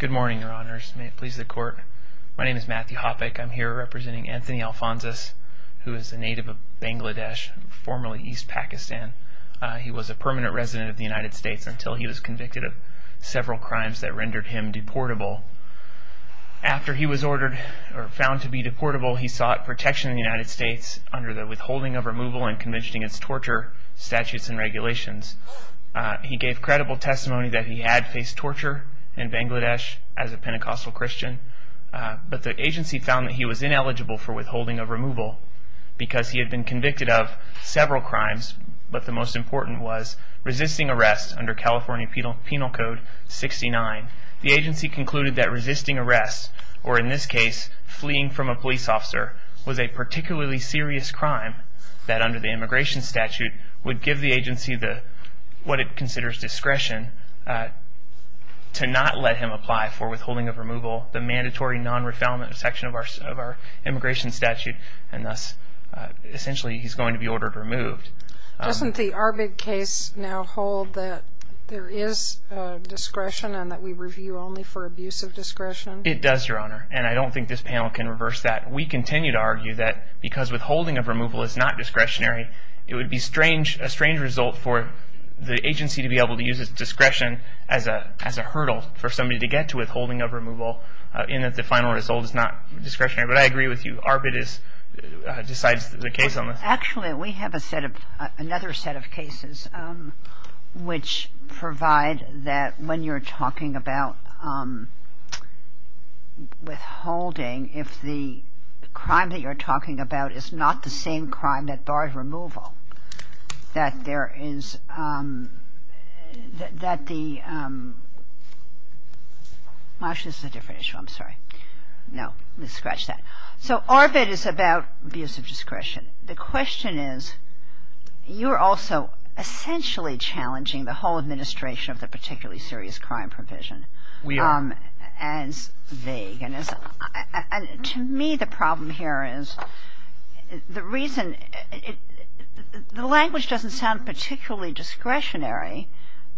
Good morning, your honors. May it please the court. My name is Matthew Hoppeck. I'm here representing Anthony Alphonsus, who is a native of Bangladesh, formerly East Pakistan. He was a permanent resident of the United States until he was convicted of several crimes that rendered him deportable. After he was ordered or found to be deportable, he sought protection in the United States under the Withholding of Removal and Convention Against Torture statutes and regulations. He gave credible testimony that he had faced torture in Bangladesh as a Pentecostal Christian, but the agency found that he was ineligible for withholding of removal because he had been convicted of several crimes, but the most important was resisting arrest under California Penal Code 69. The agency concluded that resisting arrest, or in this case fleeing from a police officer, was a particularly serious crime that under the immigration statute would give the agency what it considers discretion to not let him apply for withholding of removal, the mandatory non-refoulement section of our immigration statute, and thus essentially he's going to be ordered removed. Doesn't the ARBID case now hold that there is discretion and that we review only for abuse of discretion? It does, Your Honor, and I don't think this panel can reverse that. We continue to argue that because withholding of removal is not discretionary, it would be a strange result for the agency to be able to use its discretion as a hurdle for somebody to get to withholding of removal in that the final result is not discretionary, but I agree with you. ARBID decides the case on this. Actually, we have a set of, another set of cases which provide that when you're talking about withholding, if the crime that you're talking about is not the same crime that barred removal, that there is, that the, actually this is a different issue, I'm sorry, no, let's scratch that. So ARBID is about abuse of discretion. The question is, you're also essentially challenging the whole administration of the particularly serious crime provision. We are. And to me the problem here is the reason, the language doesn't sound particularly discretionary.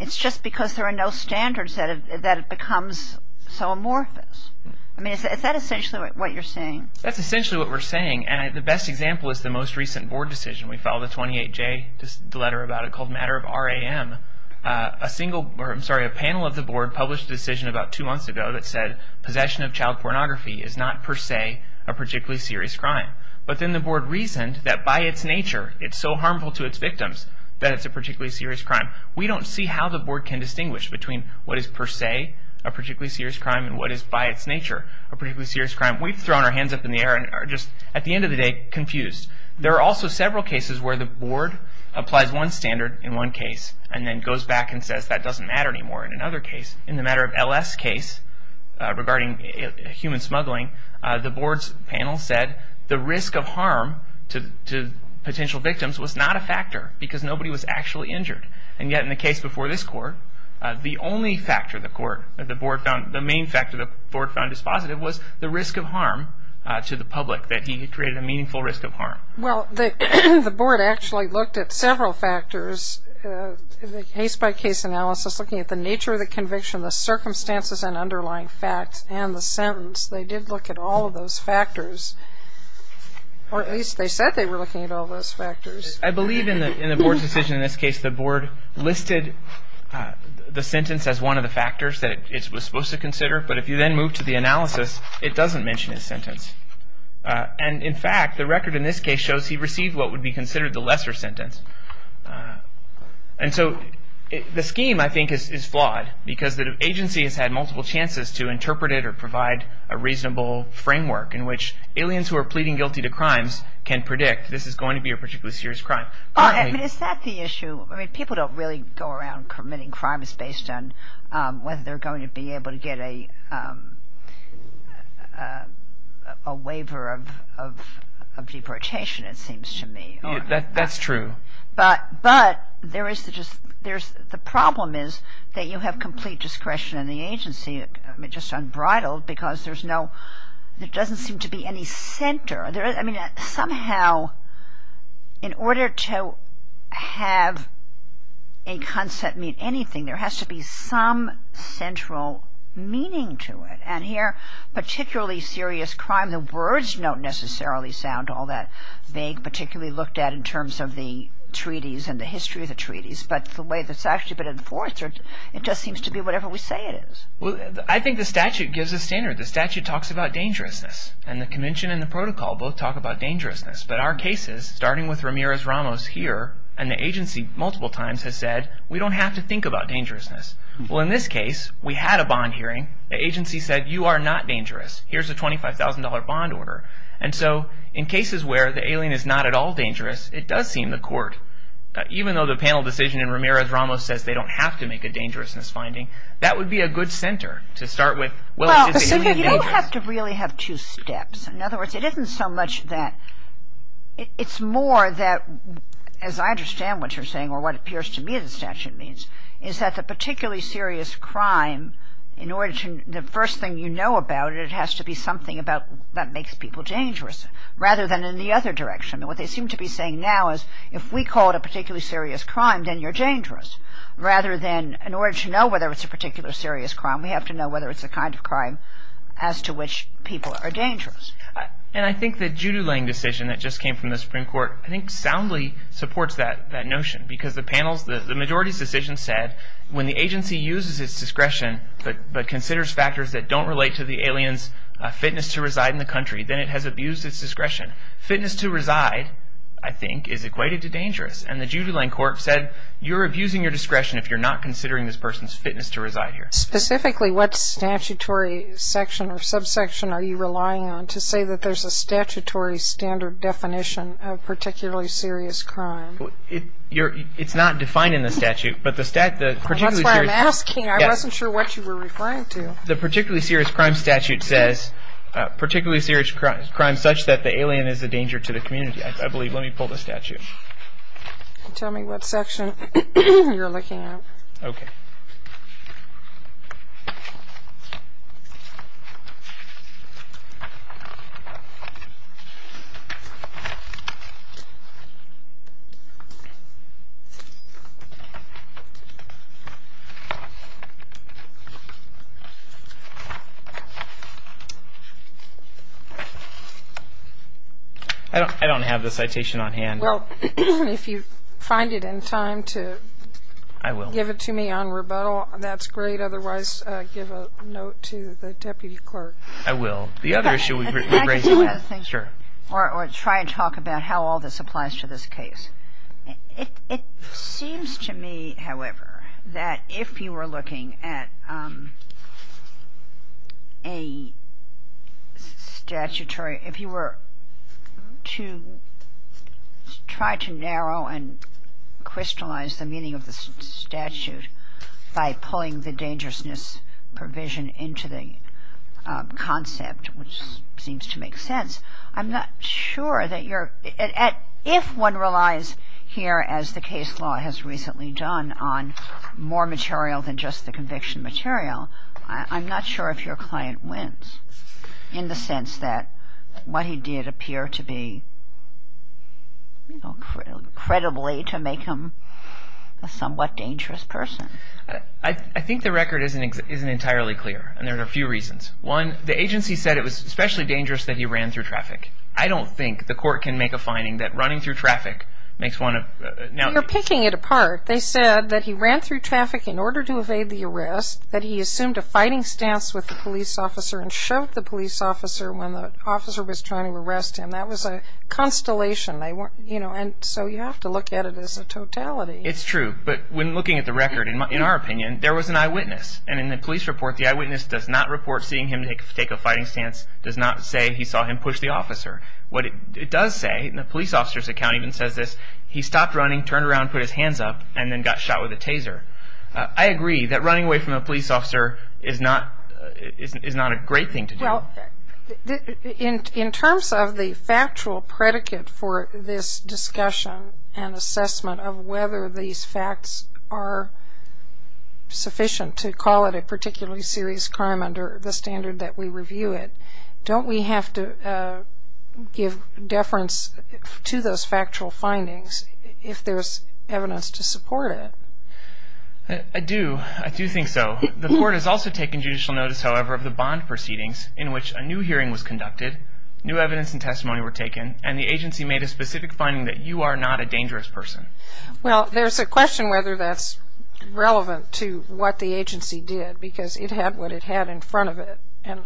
It's just because there are no standards that it becomes so amorphous. I mean, is that essentially what you're saying? That's essentially what we're saying, and the best example is the most recent board decision. We filed a 28-J letter about it called Matter of R.A.M. A single, I'm sorry, a panel of the board published a decision about two months ago that said possession of child pornography is not per se a particularly serious crime. But then the board reasoned that by its nature it's so harmful to its victims that it's a particularly serious crime. We don't see how the board can distinguish between what is per se a particularly serious crime and what is by its nature a particularly serious crime. We've thrown our hands up in the air and are just, at the end of the day, confused. There are also several cases where the board applies one standard in one case and then goes back and says that doesn't matter anymore in another case. In the Matter of L.S. case regarding human smuggling, the board's panel said the risk of harm to potential victims was not a factor because nobody was actually injured. And yet in the case before this court, the only factor the board found, the main factor the board found was positive was the risk of harm to the public that he created a meaningful risk of harm. Well, the board actually looked at several factors, case-by-case analysis, looking at the nature of the conviction, the circumstances and underlying facts, and the sentence. They did look at all of those factors. Or at least they said they were looking at all those factors. I believe in the board's decision in this case, the board listed the sentence as one of the factors that it was supposed to consider. But if you then move to the analysis, it doesn't mention his sentence. And in fact, the record in this case shows he received what would be considered the lesser sentence. And so the scheme, I think, is flawed because the agency has had multiple chances to interpret it or provide a reasonable framework in which aliens who are pleading guilty to crimes can predict this is going to be a particularly serious crime. Is that the issue? I mean, people don't really go around committing crimes based on whether they're going to be able to get a waiver of deportation, it seems to me. That's true. But the problem is that you have complete discretion in the agency, just unbridled, because there doesn't seem to be any center. I mean, somehow, in order to have a concept mean anything, there has to be some central meaning to it. And here, particularly serious crime, the words don't necessarily sound all that vague, particularly looked at in terms of the treaties and the history of the treaties. But the way it's actually been enforced, it just seems to be whatever we say it is. Well, I think the statute gives a standard. The statute talks about dangerousness. And the convention and the protocol both talk about dangerousness. But our cases, starting with Ramirez-Ramos here, and the agency multiple times has said, we don't have to think about dangerousness. Well, in this case, we had a bond hearing. The agency said, you are not dangerous. Here's a $25,000 bond order. And so in cases where the alien is not at all dangerous, it does seem the court, even though the panel decision in Ramirez-Ramos says they don't have to make a dangerousness finding, that would be a good center to start with. Well, so you don't have to really have two steps. In other words, it isn't so much that – it's more that, as I understand what you're saying, or what appears to me the statute means, is that the particularly serious crime, in order to – the first thing you know about it, it has to be something about that makes people dangerous, rather than in the other direction. I mean, what they seem to be saying now is, if we call it a particularly serious crime, then you're dangerous. Rather than, in order to know whether it's a particularly serious crime, we have to know whether it's the kind of crime as to which people are dangerous. And I think the Judulene decision that just came from the Supreme Court, I think soundly supports that notion. Because the panels – the majority's decision said, when the agency uses its discretion, but considers factors that don't relate to the alien's fitness to reside in the country, then it has abused its discretion. Fitness to reside, I think, is equated to dangerous. And the Judulene court said, you're abusing your discretion if you're not considering this person's fitness to reside here. Specifically, what statutory section or subsection are you relying on to say that there's a statutory standard definition of particularly serious crime? It's not defined in the statute, but the – That's why I'm asking. I wasn't sure what you were referring to. The particularly serious crime statute says, particularly serious crime such that the alien is a danger to the community, I believe. Let me pull the statute. Tell me what section you're looking at. Okay. I don't have the citation on hand. Well, if you find it in time to – I will. Give it to me on rebuttal, that's great. Otherwise, give a note to the deputy clerk. I will. The other issue – Or try and talk about how all this applies to this case. It seems to me, however, that if you were looking at a statutory – if you were to try to narrow and crystallize the meaning of the statute by pulling the dangerousness provision into the concept, which seems to make sense, I'm not sure that you're – If one relies here, as the case law has recently done, on more material than just the conviction material, I'm not sure if your client wins in the sense that what he did appear to be, you know, credibly to make him a somewhat dangerous person. I think the record isn't entirely clear, and there are a few reasons. One, the agency said it was especially dangerous that he ran through traffic. I don't think the court can make a finding that running through traffic makes one a – You're picking it apart. They said that he ran through traffic in order to evade the arrest, that he assumed a fighting stance with the police officer and shoved the police officer when the officer was trying to arrest him. That was a constellation. And so you have to look at it as a totality. It's true. But when looking at the record, in our opinion, there was an eyewitness. And in the police report, the eyewitness does not report seeing him take a fighting stance, does not say he saw him push the officer. What it does say, and the police officer's account even says this, he stopped running, turned around, put his hands up, and then got shot with a taser. I agree that running away from a police officer is not a great thing to do. Well, in terms of the factual predicate for this discussion and assessment of whether these facts are sufficient to call it a particularly serious crime under the standard that we review it, don't we have to give deference to those factual findings if there's evidence to support it? I do. I do think so. The court has also taken judicial notice, however, of the bond proceedings in which a new hearing was conducted, new evidence and testimony were taken, and the agency made a specific finding that you are not a dangerous person. Well, there's a question whether that's relevant to what the agency did because it had what it had in front of it. And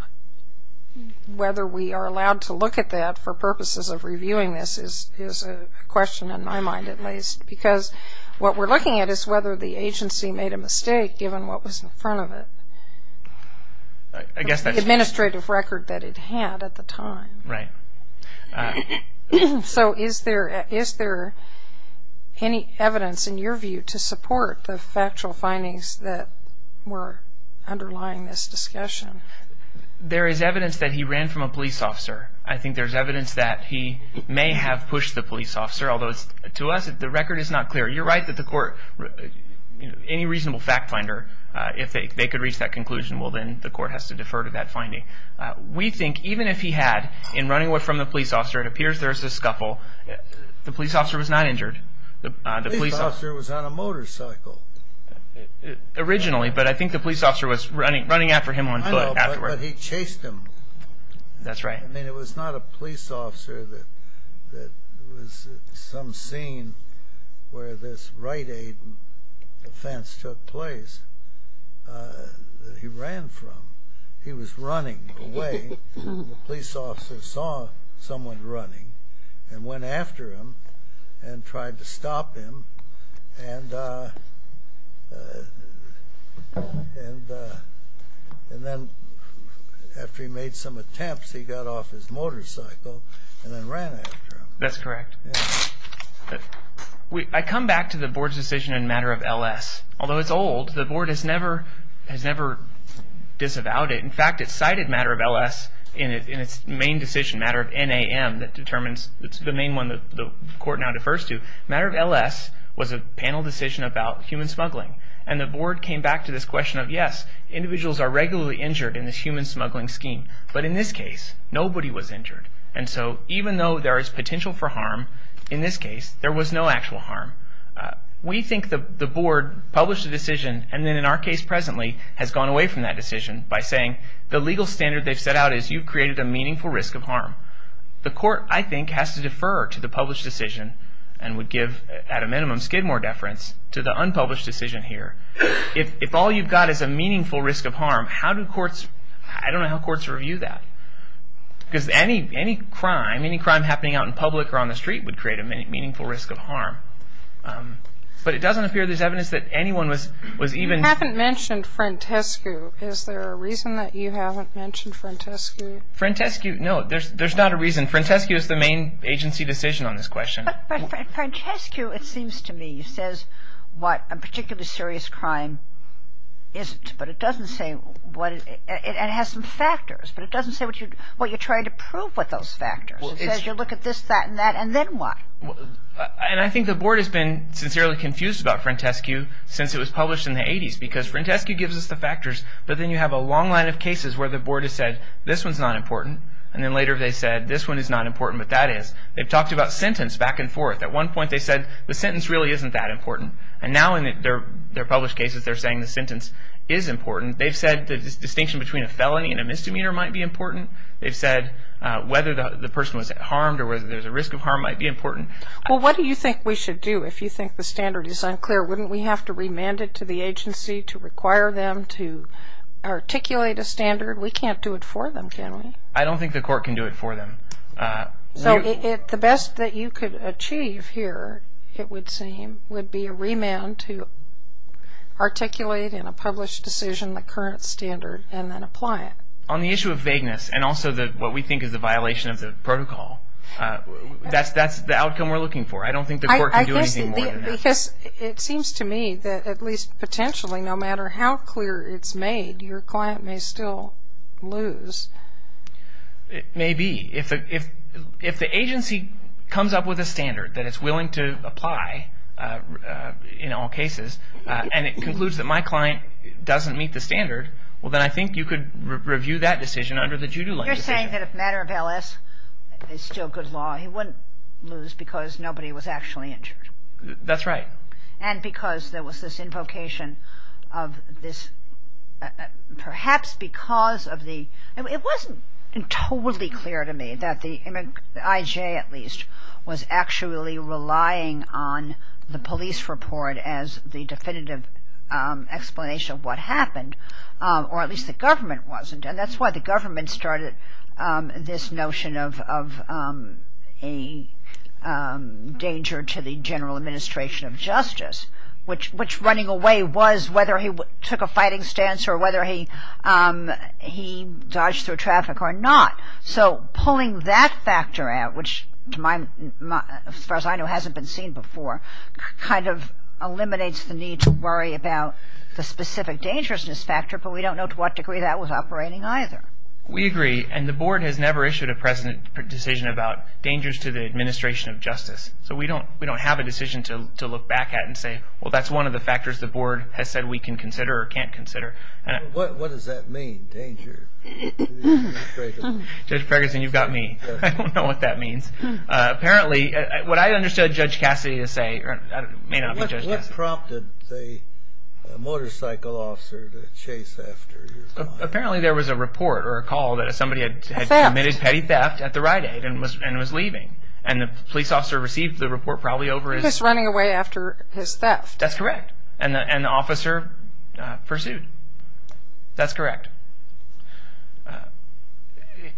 whether we are allowed to look at that for purposes of reviewing this is a question in my mind, at least. Because what we're looking at is whether the agency made a mistake given what was in front of it, the administrative record that it had at the time. Right. So is there any evidence in your view to support the factual findings that were underlying this discussion? There is evidence that he ran from a police officer. I think there's evidence that he may have pushed the police officer, although to us the record is not clear. You're right that the court, any reasonable fact finder, if they could reach that conclusion, well, then the court has to defer to that finding. We think even if he had, in running away from the police officer, it appears there's a scuffle, the police officer was not injured. The police officer was on a motorcycle. Originally, but I think the police officer was running after him on foot afterward. I know, but he chased him. That's right. I mean, it was not a police officer that was some scene where this right aid offense took place that he ran from. He was running away and the police officer saw someone running and went after him and tried to stop him. And then after he made some attempts, he got off his motorcycle and then ran after him. That's correct. I come back to the board's decision in matter of L.S. Although it's old, the board has never disavowed it. In fact, it cited matter of L.S. in its main decision, matter of N.A.M. It's the main one the court now defers to. Matter of L.S. was a panel decision about human smuggling. And the board came back to this question of, yes, individuals are regularly injured in this human smuggling scheme. But in this case, nobody was injured. And so even though there is potential for harm, in this case, there was no actual harm. We think the board published a decision and then in our case presently has gone away from that decision by saying, the legal standard they've set out is you created a meaningful risk of harm. The court, I think, has to defer to the published decision and would give, at a minimum, skid more deference to the unpublished decision here. If all you've got is a meaningful risk of harm, how do courts – I don't know how courts review that. Because any crime, any crime happening out in public or on the street would create a meaningful risk of harm. But it doesn't appear there's evidence that anyone was even – You haven't mentioned Frantescu. Is there a reason that you haven't mentioned Frantescu? Frantescu – no, there's not a reason. Frantescu is the main agency decision on this question. But Frantescu, it seems to me, says what a particularly serious crime isn't. But it doesn't say what – it has some factors. But it doesn't say what you're trying to prove with those factors. It says you look at this, that, and that, and then what? And I think the board has been sincerely confused about Frantescu since it was published in the 80s. Because Frantescu gives us the factors, but then you have a long line of cases where the board has said, this one's not important. And then later they said, this one is not important, but that is. They've talked about sentence back and forth. At one point they said the sentence really isn't that important. And now in their published cases they're saying the sentence is important. They've said the distinction between a felony and a misdemeanor might be important. They've said whether the person was harmed or whether there's a risk of harm might be important. Well, what do you think we should do if you think the standard is unclear? Wouldn't we have to remand it to the agency to require them to articulate a standard? We can't do it for them, can we? I don't think the court can do it for them. So the best that you could achieve here, it would seem, would be a remand to articulate in a published decision the current standard and then apply it. On the issue of vagueness and also what we think is a violation of the protocol, that's the outcome we're looking for. I don't think the court can do anything more than that. Because it seems to me that at least potentially, no matter how clear it's made, your client may still lose. It may be. If the agency comes up with a standard that it's willing to apply in all cases and it concludes that my client doesn't meet the standard, well, then I think you could review that decision under the judo language. You're saying that if a matter of LS is still good law, he wouldn't lose because nobody was actually injured? That's right. And because there was this invocation of this, perhaps because of the, it wasn't totally clear to me that the IJ at least was actually relying on the police report as the definitive explanation of what happened, or at least the government wasn't. And that's why the government started this notion of a danger to the general administration of justice, which running away was whether he took a fighting stance or whether he dodged through traffic or not. So pulling that factor out, which as far as I know hasn't been seen before, kind of eliminates the need to worry about the specific dangerousness factor, but we don't know to what degree that was operating either. We agree. And the board has never issued a president decision about dangers to the administration of justice. So we don't have a decision to look back at and say, well, that's one of the factors the board has said we can consider or can't consider. What does that mean, danger to the administration? Judge Ferguson, you've got me. I don't know what that means. Apparently, what I understood Judge Cassidy to say may not be Judge Cassidy. That prompted the motorcycle officer to chase after your client. Apparently, there was a report or a call that somebody had committed petty theft at the Rite Aid and was leaving. And the police officer received the report probably over his- He was running away after his theft. That's correct. And the officer pursued. That's correct.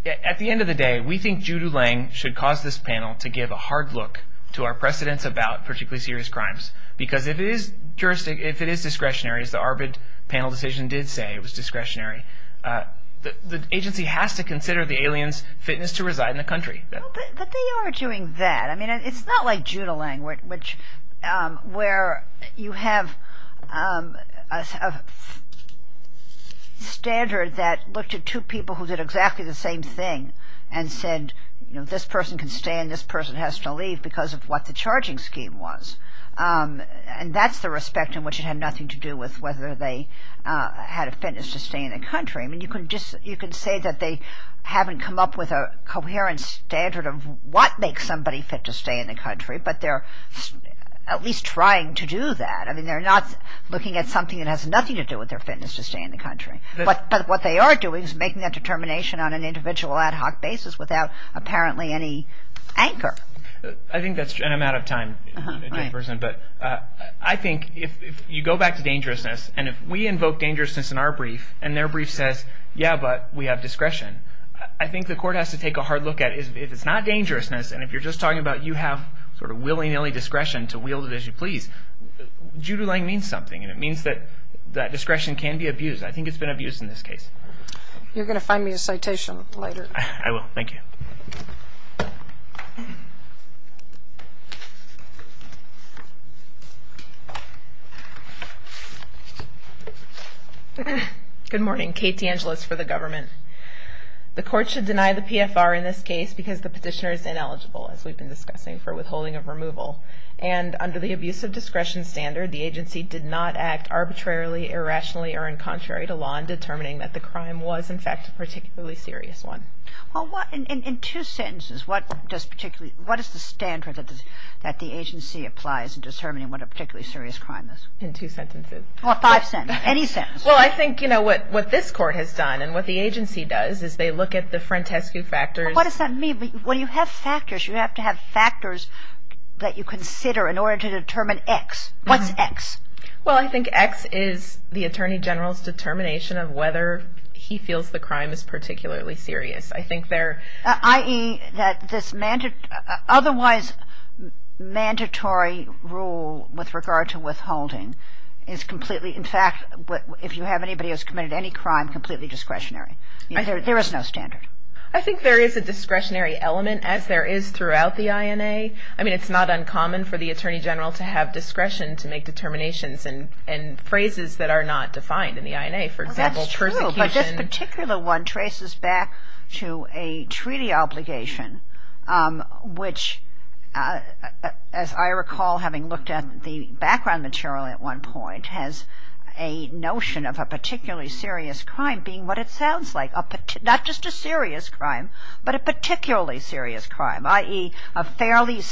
At the end of the day, we think Judy Lang should cause this panel to give a hard look to our precedents about particularly serious crimes, because if it is discretionary, as the ARBID panel decision did say it was discretionary, the agency has to consider the alien's fitness to reside in the country. But they are doing that. I mean, it's not like Judy Lang, where you have a standard that looked at two people who did exactly the same thing and said, you know, this person can stay and this person has to leave because of what the charging scheme was. And that's the respect in which it had nothing to do with whether they had a fitness to stay in the country. I mean, you can say that they haven't come up with a coherent standard of what makes somebody fit to stay in the country, but they're at least trying to do that. I mean, they're not looking at something that has nothing to do with their fitness to stay in the country. But what they are doing is making that determination on an individual ad hoc basis without apparently any anchor. I think that's true, and I'm out of time, but I think if you go back to dangerousness, and if we invoke dangerousness in our brief and their brief says, yeah, but we have discretion, I think the court has to take a hard look at if it's not dangerousness, and if you're just talking about you have sort of willy-nilly discretion to wield it as you please, Judy Lang means something, and it means that discretion can be abused. I think it's been abused in this case. You're going to find me a citation later. I will. Thank you. Good morning. Kate DeAngelis for the government. The court should deny the PFR in this case because the petitioner is ineligible, as we've been discussing, for withholding of removal. And under the abuse of discretion standard, the agency did not act arbitrarily, irrationally, or in contrary to law in determining that the crime was, in fact, a particularly serious one. Well, in two sentences, what is the standard that the agency applies in determining what a particularly serious crime is? In two sentences. Well, five sentences. Any sentence. Well, I think, you know, what this court has done, and what the agency does is they look at the frontescue factors. What does that mean? When you have factors, you have to have factors that you consider in order to determine X. What's X? Well, I think X is the attorney general's determination of whether he feels the crime is particularly serious. I think there... I.e., that this otherwise mandatory rule with regard to withholding is completely, in fact, if you have anybody who's committed any crime, completely discretionary. There is no standard. I think there is a discretionary element, as there is throughout the INA. I mean, it's not uncommon for the attorney general to have discretion to make determinations and phrases that are not defined in the INA. For example, persecution... Well, that's true, but this particular one traces back to a treaty obligation, which, as I recall having looked at the background material at one point, has a notion of a particularly serious crime being what it sounds like, not just a serious crime, but a particularly serious crime, I.e., a fairly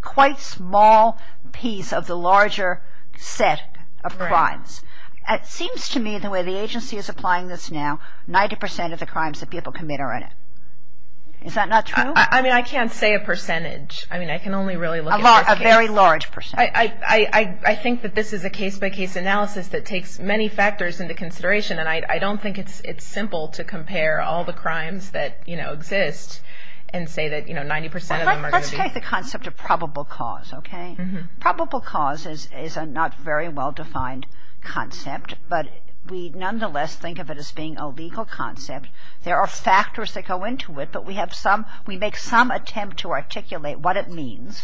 quite small piece of the larger set of crimes. It seems to me the way the agency is applying this now, 90% of the crimes that people commit are in it. Is that not true? I mean, I can't say a percentage. I mean, I can only really look at... A very large percentage. I think that this is a case-by-case analysis that takes many factors into consideration, and I don't think it's simple to compare all the crimes that exist and say that 90% of them are going to be... Let's take the concept of probable cause, okay? Probable cause is a not very well-defined concept, but we nonetheless think of it as being a legal concept. There are factors that go into it, but we make some attempt to articulate what it means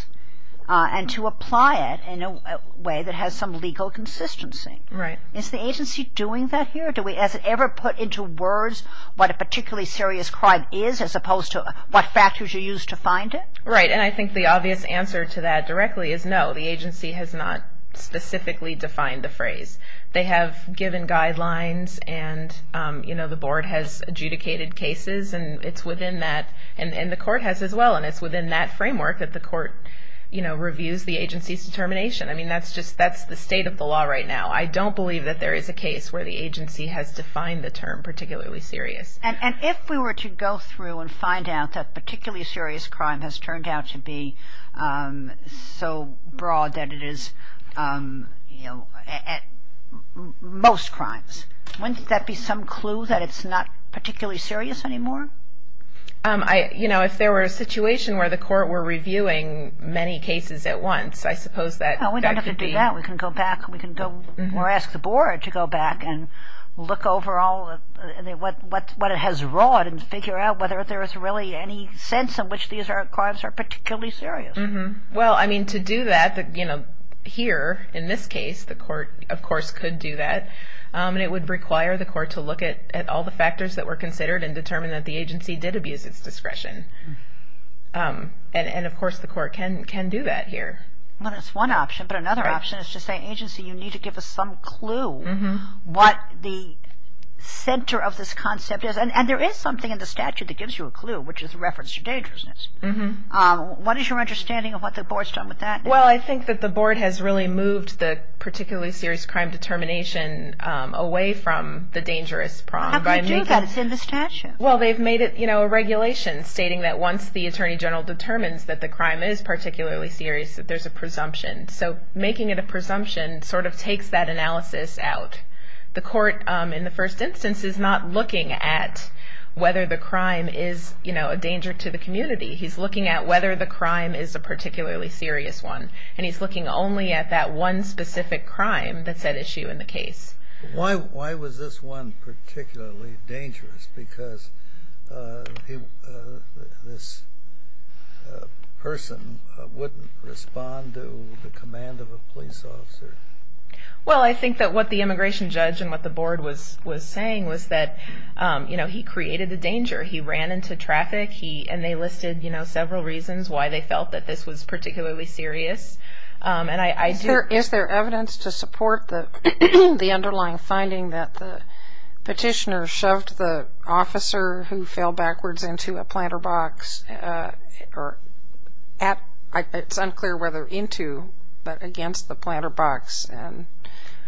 and to apply it in a way that has some legal consistency. Right. Is the agency doing that here? Has it ever put into words what a particularly serious crime is as opposed to what factors you use to find it? Right, and I think the obvious answer to that directly is no. The agency has not specifically defined the phrase. They have given guidelines, and the board has adjudicated cases, and it's within that, and the court has as well, and it's within that framework that the court reviews the agency's determination. I mean, that's the state of the law right now. I don't believe that there is a case where the agency has defined the term particularly serious. And if we were to go through and find out that a particularly serious crime has turned out to be so broad that it is, you know, at most crimes, wouldn't that be some clue that it's not particularly serious anymore? You know, if there were a situation where the court were reviewing many cases at once, I suppose that could be... Or ask the board to go back and look over all of what it has wrought and figure out whether there is really any sense in which these crimes are particularly serious. Well, I mean, to do that, you know, here, in this case, the court, of course, could do that, and it would require the court to look at all the factors that were considered and determine that the agency did abuse its discretion. And, of course, the court can do that here. Well, that's one option. But another option is to say, agency, you need to give us some clue what the center of this concept is. And there is something in the statute that gives you a clue, which is reference to dangerousness. What is your understanding of what the board's done with that? Well, I think that the board has really moved the particularly serious crime determination away from the dangerous prong. How do you do that? It's in the statute. Well, they've made it, you know, a regulation stating that once the attorney general determines that the crime is particularly serious, that there's a presumption. So making it a presumption sort of takes that analysis out. The court, in the first instance, is not looking at whether the crime is, you know, a danger to the community. He's looking at whether the crime is a particularly serious one, and he's looking only at that one specific crime that's at issue in the case. Why was this one particularly dangerous? Because this person wouldn't respond to the command of a police officer. Well, I think that what the immigration judge and what the board was saying was that, you know, he created a danger. He ran into traffic, and they listed, you know, several reasons why they felt that this was particularly serious. Is there evidence to support the underlying finding that the petitioner shoved the officer who fell backwards into a planter box, or at, it's unclear whether into, but against the planter box?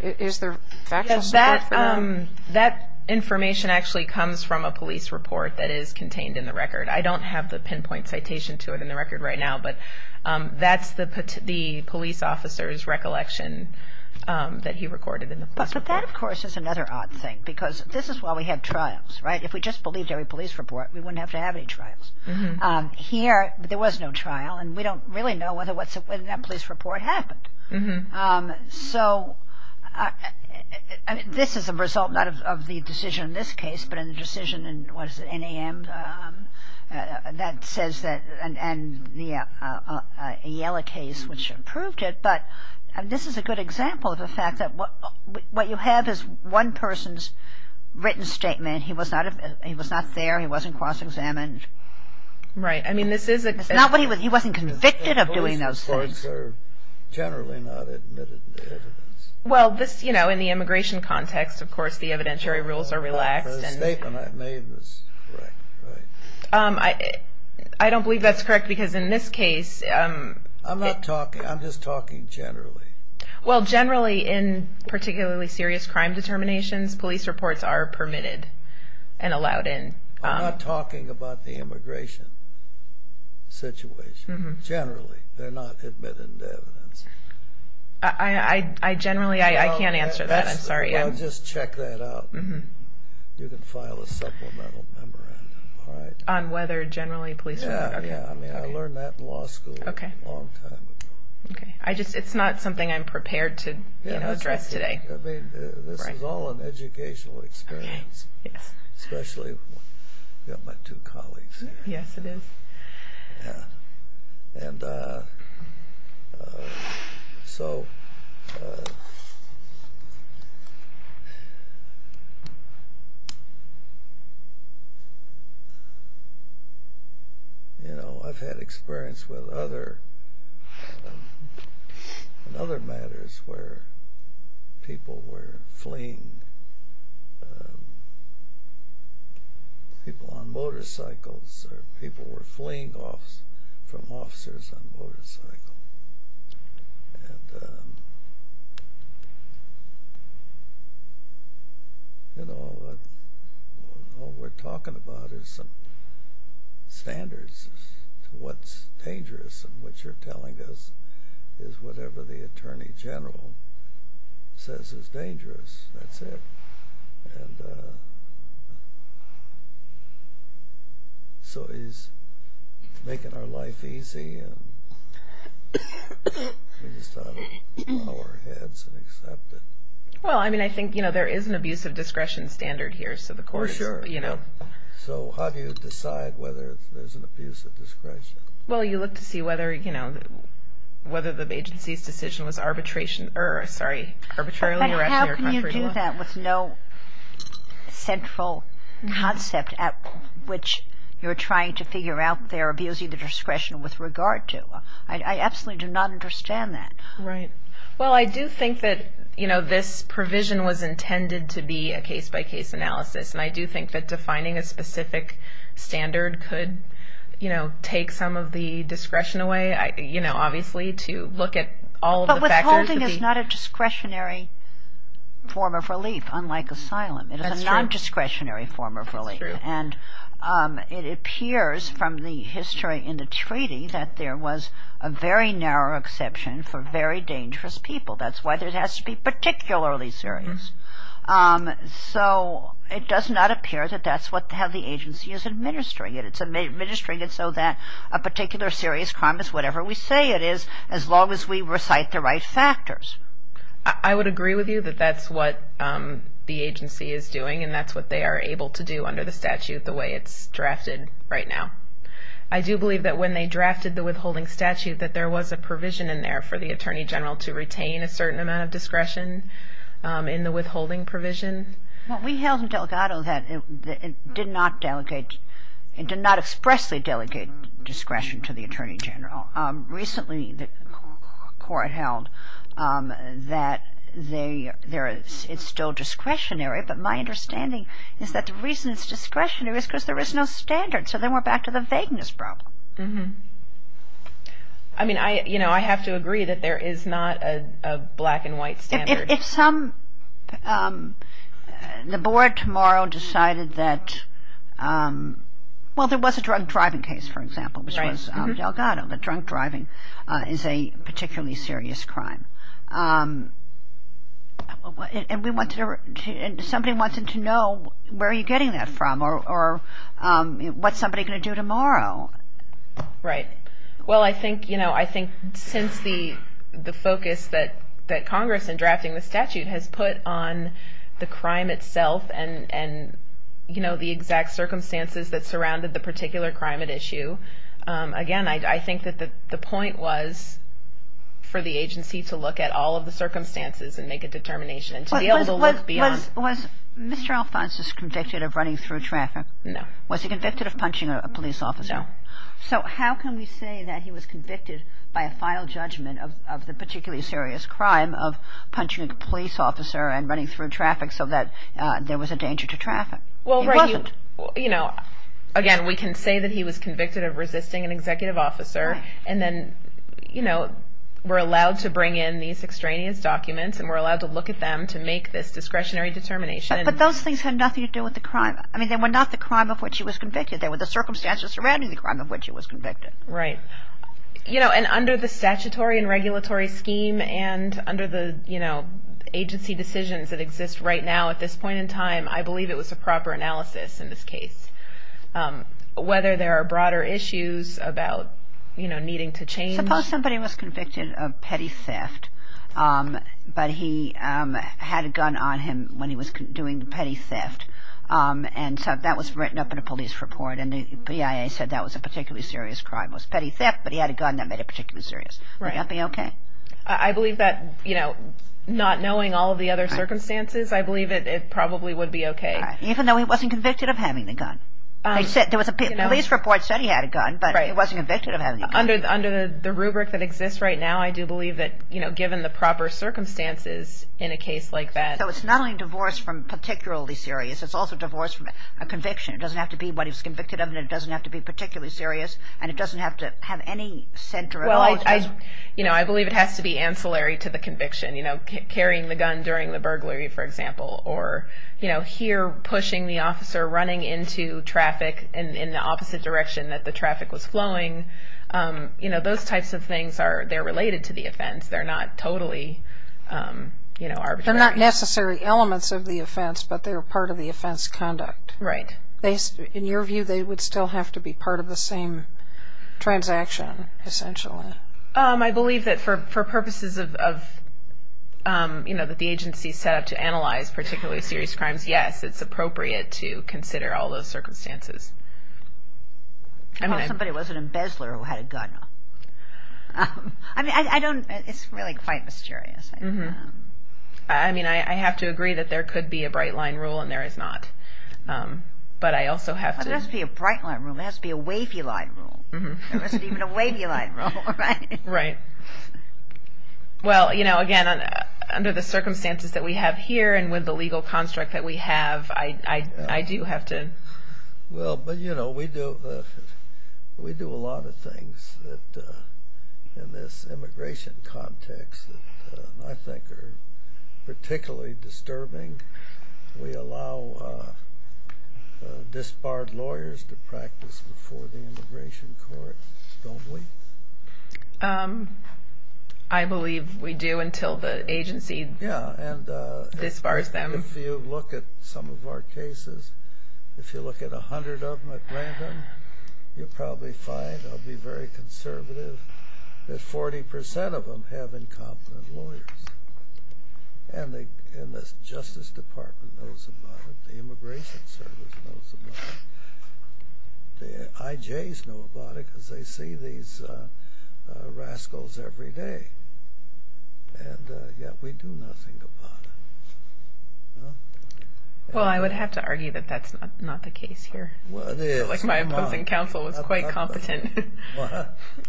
Is there factual support for that? That information actually comes from a police report that is contained in the record. I don't have the pinpoint citation to it in the record right now, but that's the police officer's recollection that he recorded in the police report. But that, of course, is another odd thing, because this is why we have trials, right? If we just believed every police report, we wouldn't have to have any trials. Here, there was no trial, and we don't really know whether that police report happened. So, I mean, this is a result not of the decision in this case, but in the decision in, what is it, NAM? That says that, and the Ayala case, which proved it. But this is a good example of the fact that what you have is one person's written statement. He was not there. He wasn't cross-examined. Right. I mean, this is a... Not what he was, he wasn't convicted of doing those things. The police reports are generally not admitted to evidence. Well, this, you know, in the immigration context, of course, the evidentiary rules are relaxed. The statement I made was correct, right? I don't believe that's correct, because in this case... I'm not talking, I'm just talking generally. Well, generally, in particularly serious crime determinations, police reports are permitted and allowed in. I'm not talking about the immigration situation. Generally, they're not admitted to evidence. I generally, I can't answer that, I'm sorry. I'll just check that out. You can file a supplemental memorandum, all right? On whether generally police report... Yeah, yeah, I mean, I learned that in law school a long time ago. Okay, I just, it's not something I'm prepared to, you know, address today. I mean, this is all an educational experience. Okay, yes. Especially with my two colleagues here. Yes, it is. Yeah, and so... You know, I've had experience with other matters where people were fleeing. People on motorcycles, or people were fleeing from officers on motorcycles. And, you know, all we're talking about is some standards as to what's dangerous. And what you're telling us is whatever the Attorney General says is dangerous. That's it. And so he's making our life easy, and we just ought to bow our heads and accept it. Well, I mean, I think, you know, there is an abuse of discretion standard here. So the court is, you know... For sure. So how do you decide whether there's an abuse of discretion? Well, you look to see whether, you know, whether the agency's decision was arbitration... How can you do that with no central concept at which you're trying to figure out they're abusing the discretion with regard to? I absolutely do not understand that. Right. Well, I do think that, you know, this provision was intended to be a case-by-case analysis. And I do think that defining a specific standard could, you know, take some of the discretion away, you know, obviously, to look at all of the factors... That's true. It is a nondiscretionary form of relief. That's true. And it appears from the history in the treaty that there was a very narrow exception for very dangerous people. That's why it has to be particularly serious. So it does not appear that that's how the agency is administering it. It's administering it so that a particular serious crime is whatever we say it is, as long as we recite the right factors. I would agree with you that that's what the agency is doing, and that's what they are able to do under the statute the way it's drafted right now. I do believe that when they drafted the withholding statute that there was a provision in there for the Attorney General to retain a certain amount of discretion in the withholding provision. Well, we held in Delgado that it did not expressly delegate discretion to the Attorney General. Recently the court held that it's still discretionary, but my understanding is that the reason it's discretionary is because there is no standard. So then we're back to the vagueness problem. I mean, I have to agree that there is not a black and white standard. If some... the board tomorrow decided that... Well, there was a drunk driving case, for example, which was Delgado, that drunk driving is a particularly serious crime. And we wanted to... somebody wanted to know where are you getting that from or what's somebody going to do tomorrow? Right. Well, I think since the focus that Congress in drafting the statute has put on the crime itself and the exact circumstances that surrounded the particular crime at issue, again, I think that the point was for the agency to look at all of the circumstances and make a determination and to be able to look beyond. Was Mr. Alphonsus convicted of running through traffic? No. Was he convicted of punching a police officer? No. So how can we say that he was convicted by a final judgment of the particularly serious crime of punching a police officer and running through traffic so that there was a danger to traffic? Well, again, we can say that he was convicted of resisting an executive officer and then were allowed to bring in these extraneous documents and were allowed to look at them to make this discretionary determination. But those things had nothing to do with the crime. I mean, they were not the crime of which he was convicted. They were the circumstances surrounding the crime of which he was convicted. Right. You know, and under the statutory and regulatory scheme and under the agency decisions that exist right now at this point in time, I believe it was a proper analysis in this case, whether there are broader issues about needing to change. Suppose somebody was convicted of petty theft, but he had a gun on him when he was doing the petty theft. And so that was written up in a police report, and the BIA said that was a particularly serious crime. It was petty theft, but he had a gun that made it particularly serious. Right. Would that be okay? I believe that, you know, not knowing all of the other circumstances, I believe it probably would be okay. Even though he wasn't convicted of having the gun. There was a police report that said he had a gun, but he wasn't convicted of having the gun. Right. Under the rubric that exists right now, I do believe that, you know, given the proper circumstances in a case like that. So it's not only divorce from particularly serious. It's also divorce from a conviction. It doesn't have to be what he was convicted of, and it doesn't have to be particularly serious, and it doesn't have to have any center at all. Well, I, you know, I believe it has to be ancillary to the conviction. You know, carrying the gun during the burglary, for example, or, you know, here pushing the officer running into traffic in the opposite direction that the traffic was flowing. You know, those types of things are, they're related to the offense. They're not totally, you know, arbitrary. They're not necessary elements of the offense, but they were part of the offense conduct. Right. In your view, they would still have to be part of the same transaction, essentially. I believe that for purposes of, you know, that the agency set up to analyze particularly serious crimes, yes, it's appropriate to consider all those circumstances. Well, somebody was an embezzler who had a gun. I mean, I don't, it's really quite mysterious. I mean, I have to agree that there could be a bright line rule, and there is not. But I also have to. It has to be a bright line rule. It has to be a wavy line rule. There isn't even a wavy line rule, right? Right. Well, you know, again, under the circumstances that we have here and with the legal construct that we have, I do have to. Well, but, you know, we do a lot of things in this immigration context that I think are particularly disturbing. We allow disbarred lawyers to practice before the immigration court, don't we? I believe we do until the agency disbars them. Yeah, and if you look at some of our cases, if you look at 100 of them at random, you'll probably find, I'll be very conservative, that 40% of them have incompetent lawyers. And the Justice Department knows about it. The Immigration Service knows about it. The IJs know about it because they see these rascals every day. And yet we do nothing about it. Well, I would have to argue that that's not the case here. It's like my opposing counsel was quite competent.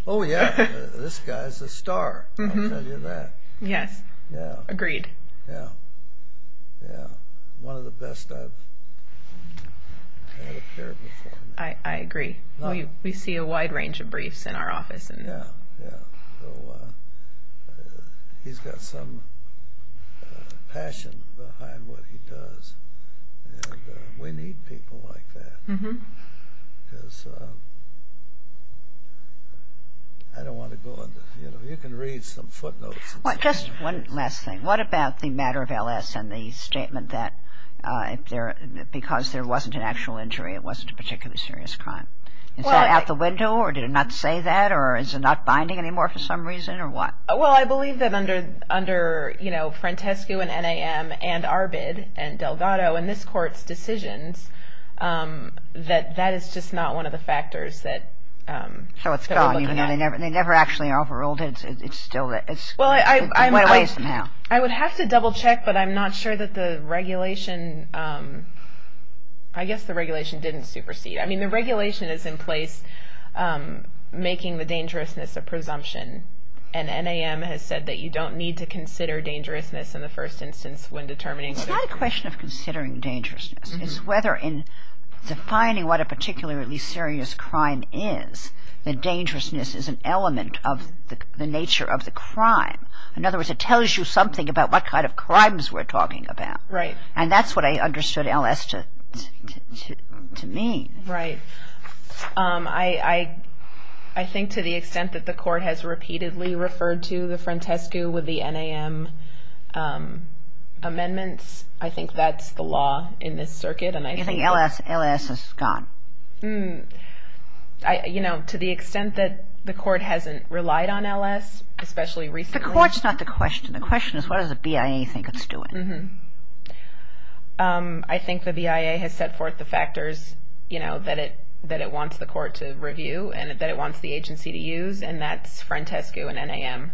Oh, yeah, this guy's a star, I'll tell you that. Yes, agreed. Yeah, yeah, one of the best I've had appear before. I agree. We see a wide range of briefs in our office. Yeah, yeah, so he's got some passion behind what he does, and we need people like that because I don't want to go on. You can read some footnotes. Just one last thing. What about the matter of LS and the statement that because there wasn't an actual injury, it wasn't a particularly serious crime? Is that out the window, or did it not say that, or is it not binding anymore for some reason, or what? Well, I believe that under, you know, Frantescu and NAM and Arbid and Delgado and this Court's decisions, that that is just not one of the factors that we're looking at. They never actually overruled it. It went away somehow. I would have to double check, but I'm not sure that the regulation, I guess the regulation didn't supersede. I mean, the regulation is in place making the dangerousness a presumption, and NAM has said that you don't need to consider dangerousness in the first instance when determining. It's not a question of considering dangerousness. It's whether in defining what a particularly serious crime is, the dangerousness is an element of the nature of the crime. In other words, it tells you something about what kind of crimes we're talking about. Right. And that's what I understood LS to mean. Right. I think to the extent that the Court has repeatedly referred to the Frantescu with the NAM amendments, I think that's the law in this circuit, and I think... You think LS is gone? You know, to the extent that the Court hasn't relied on LS, especially recently... The Court's not the question. The question is what does the BIA think it's doing? I think the BIA has set forth the factors that it wants the Court to review and that it wants the agency to use, and that's Frantescu and NAM.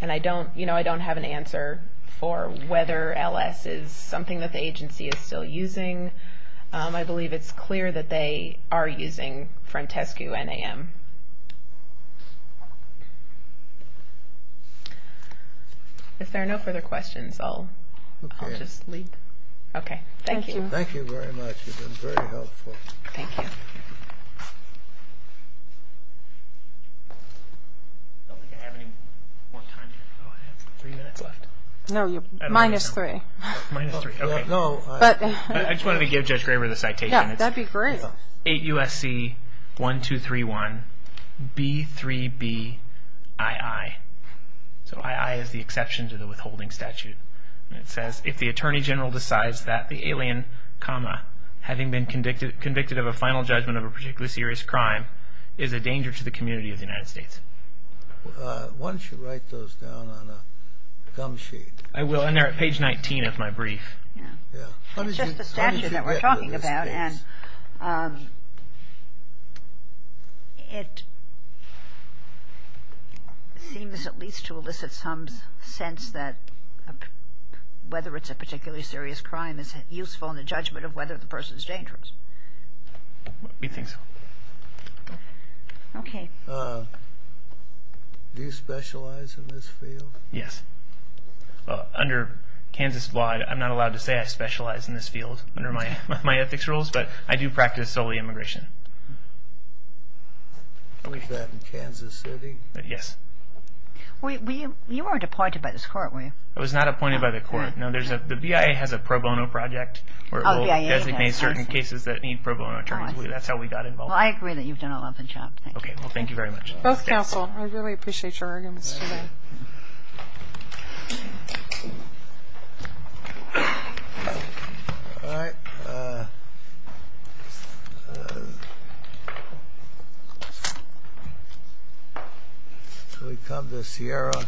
And I don't have an answer for whether LS is something that the agency is still using. I believe it's clear that they are using Frantescu and NAM. If there are no further questions, I'll just leave. Okay. Thank you. Thank you very much. You've been very helpful. Thank you. I don't think I have any more time here. Oh, I have three minutes left. No, you're minus three. Minus three, okay. I just wanted to give Judge Graber the citation. That'd be great. 8 U.S.C. 1231 B.3.B. I.I. So I.I. is the exception to the withholding statute. It says, if the Attorney General decides that the alien, having been convicted of a final judgment of a particularly serious crime, is a danger to the community of the United States. Why don't you write those down on a gum sheet? I will, and they're at page 19 of my brief. It's just the statute that we're talking about, and it seems at least to elicit some sense that whether it's a particularly serious crime is useful in the judgment of whether the person is dangerous. We think so. Okay. Do you specialize in this field? Yes. Under Kansas law, I'm not allowed to say I specialize in this field under my ethics rules, but I do practice solely immigration. I wish that in Kansas City. Yes. You weren't appointed by this court, were you? I was not appointed by the court. No, the BIA has a pro bono project, where it will designate certain cases that need pro bono attorneys. That's how we got involved. Well, I agree that you've done a lovely job. Okay, well, thank you very much. Both counsel, I really appreciate your arguments today. All right. Can we come to the Sierra?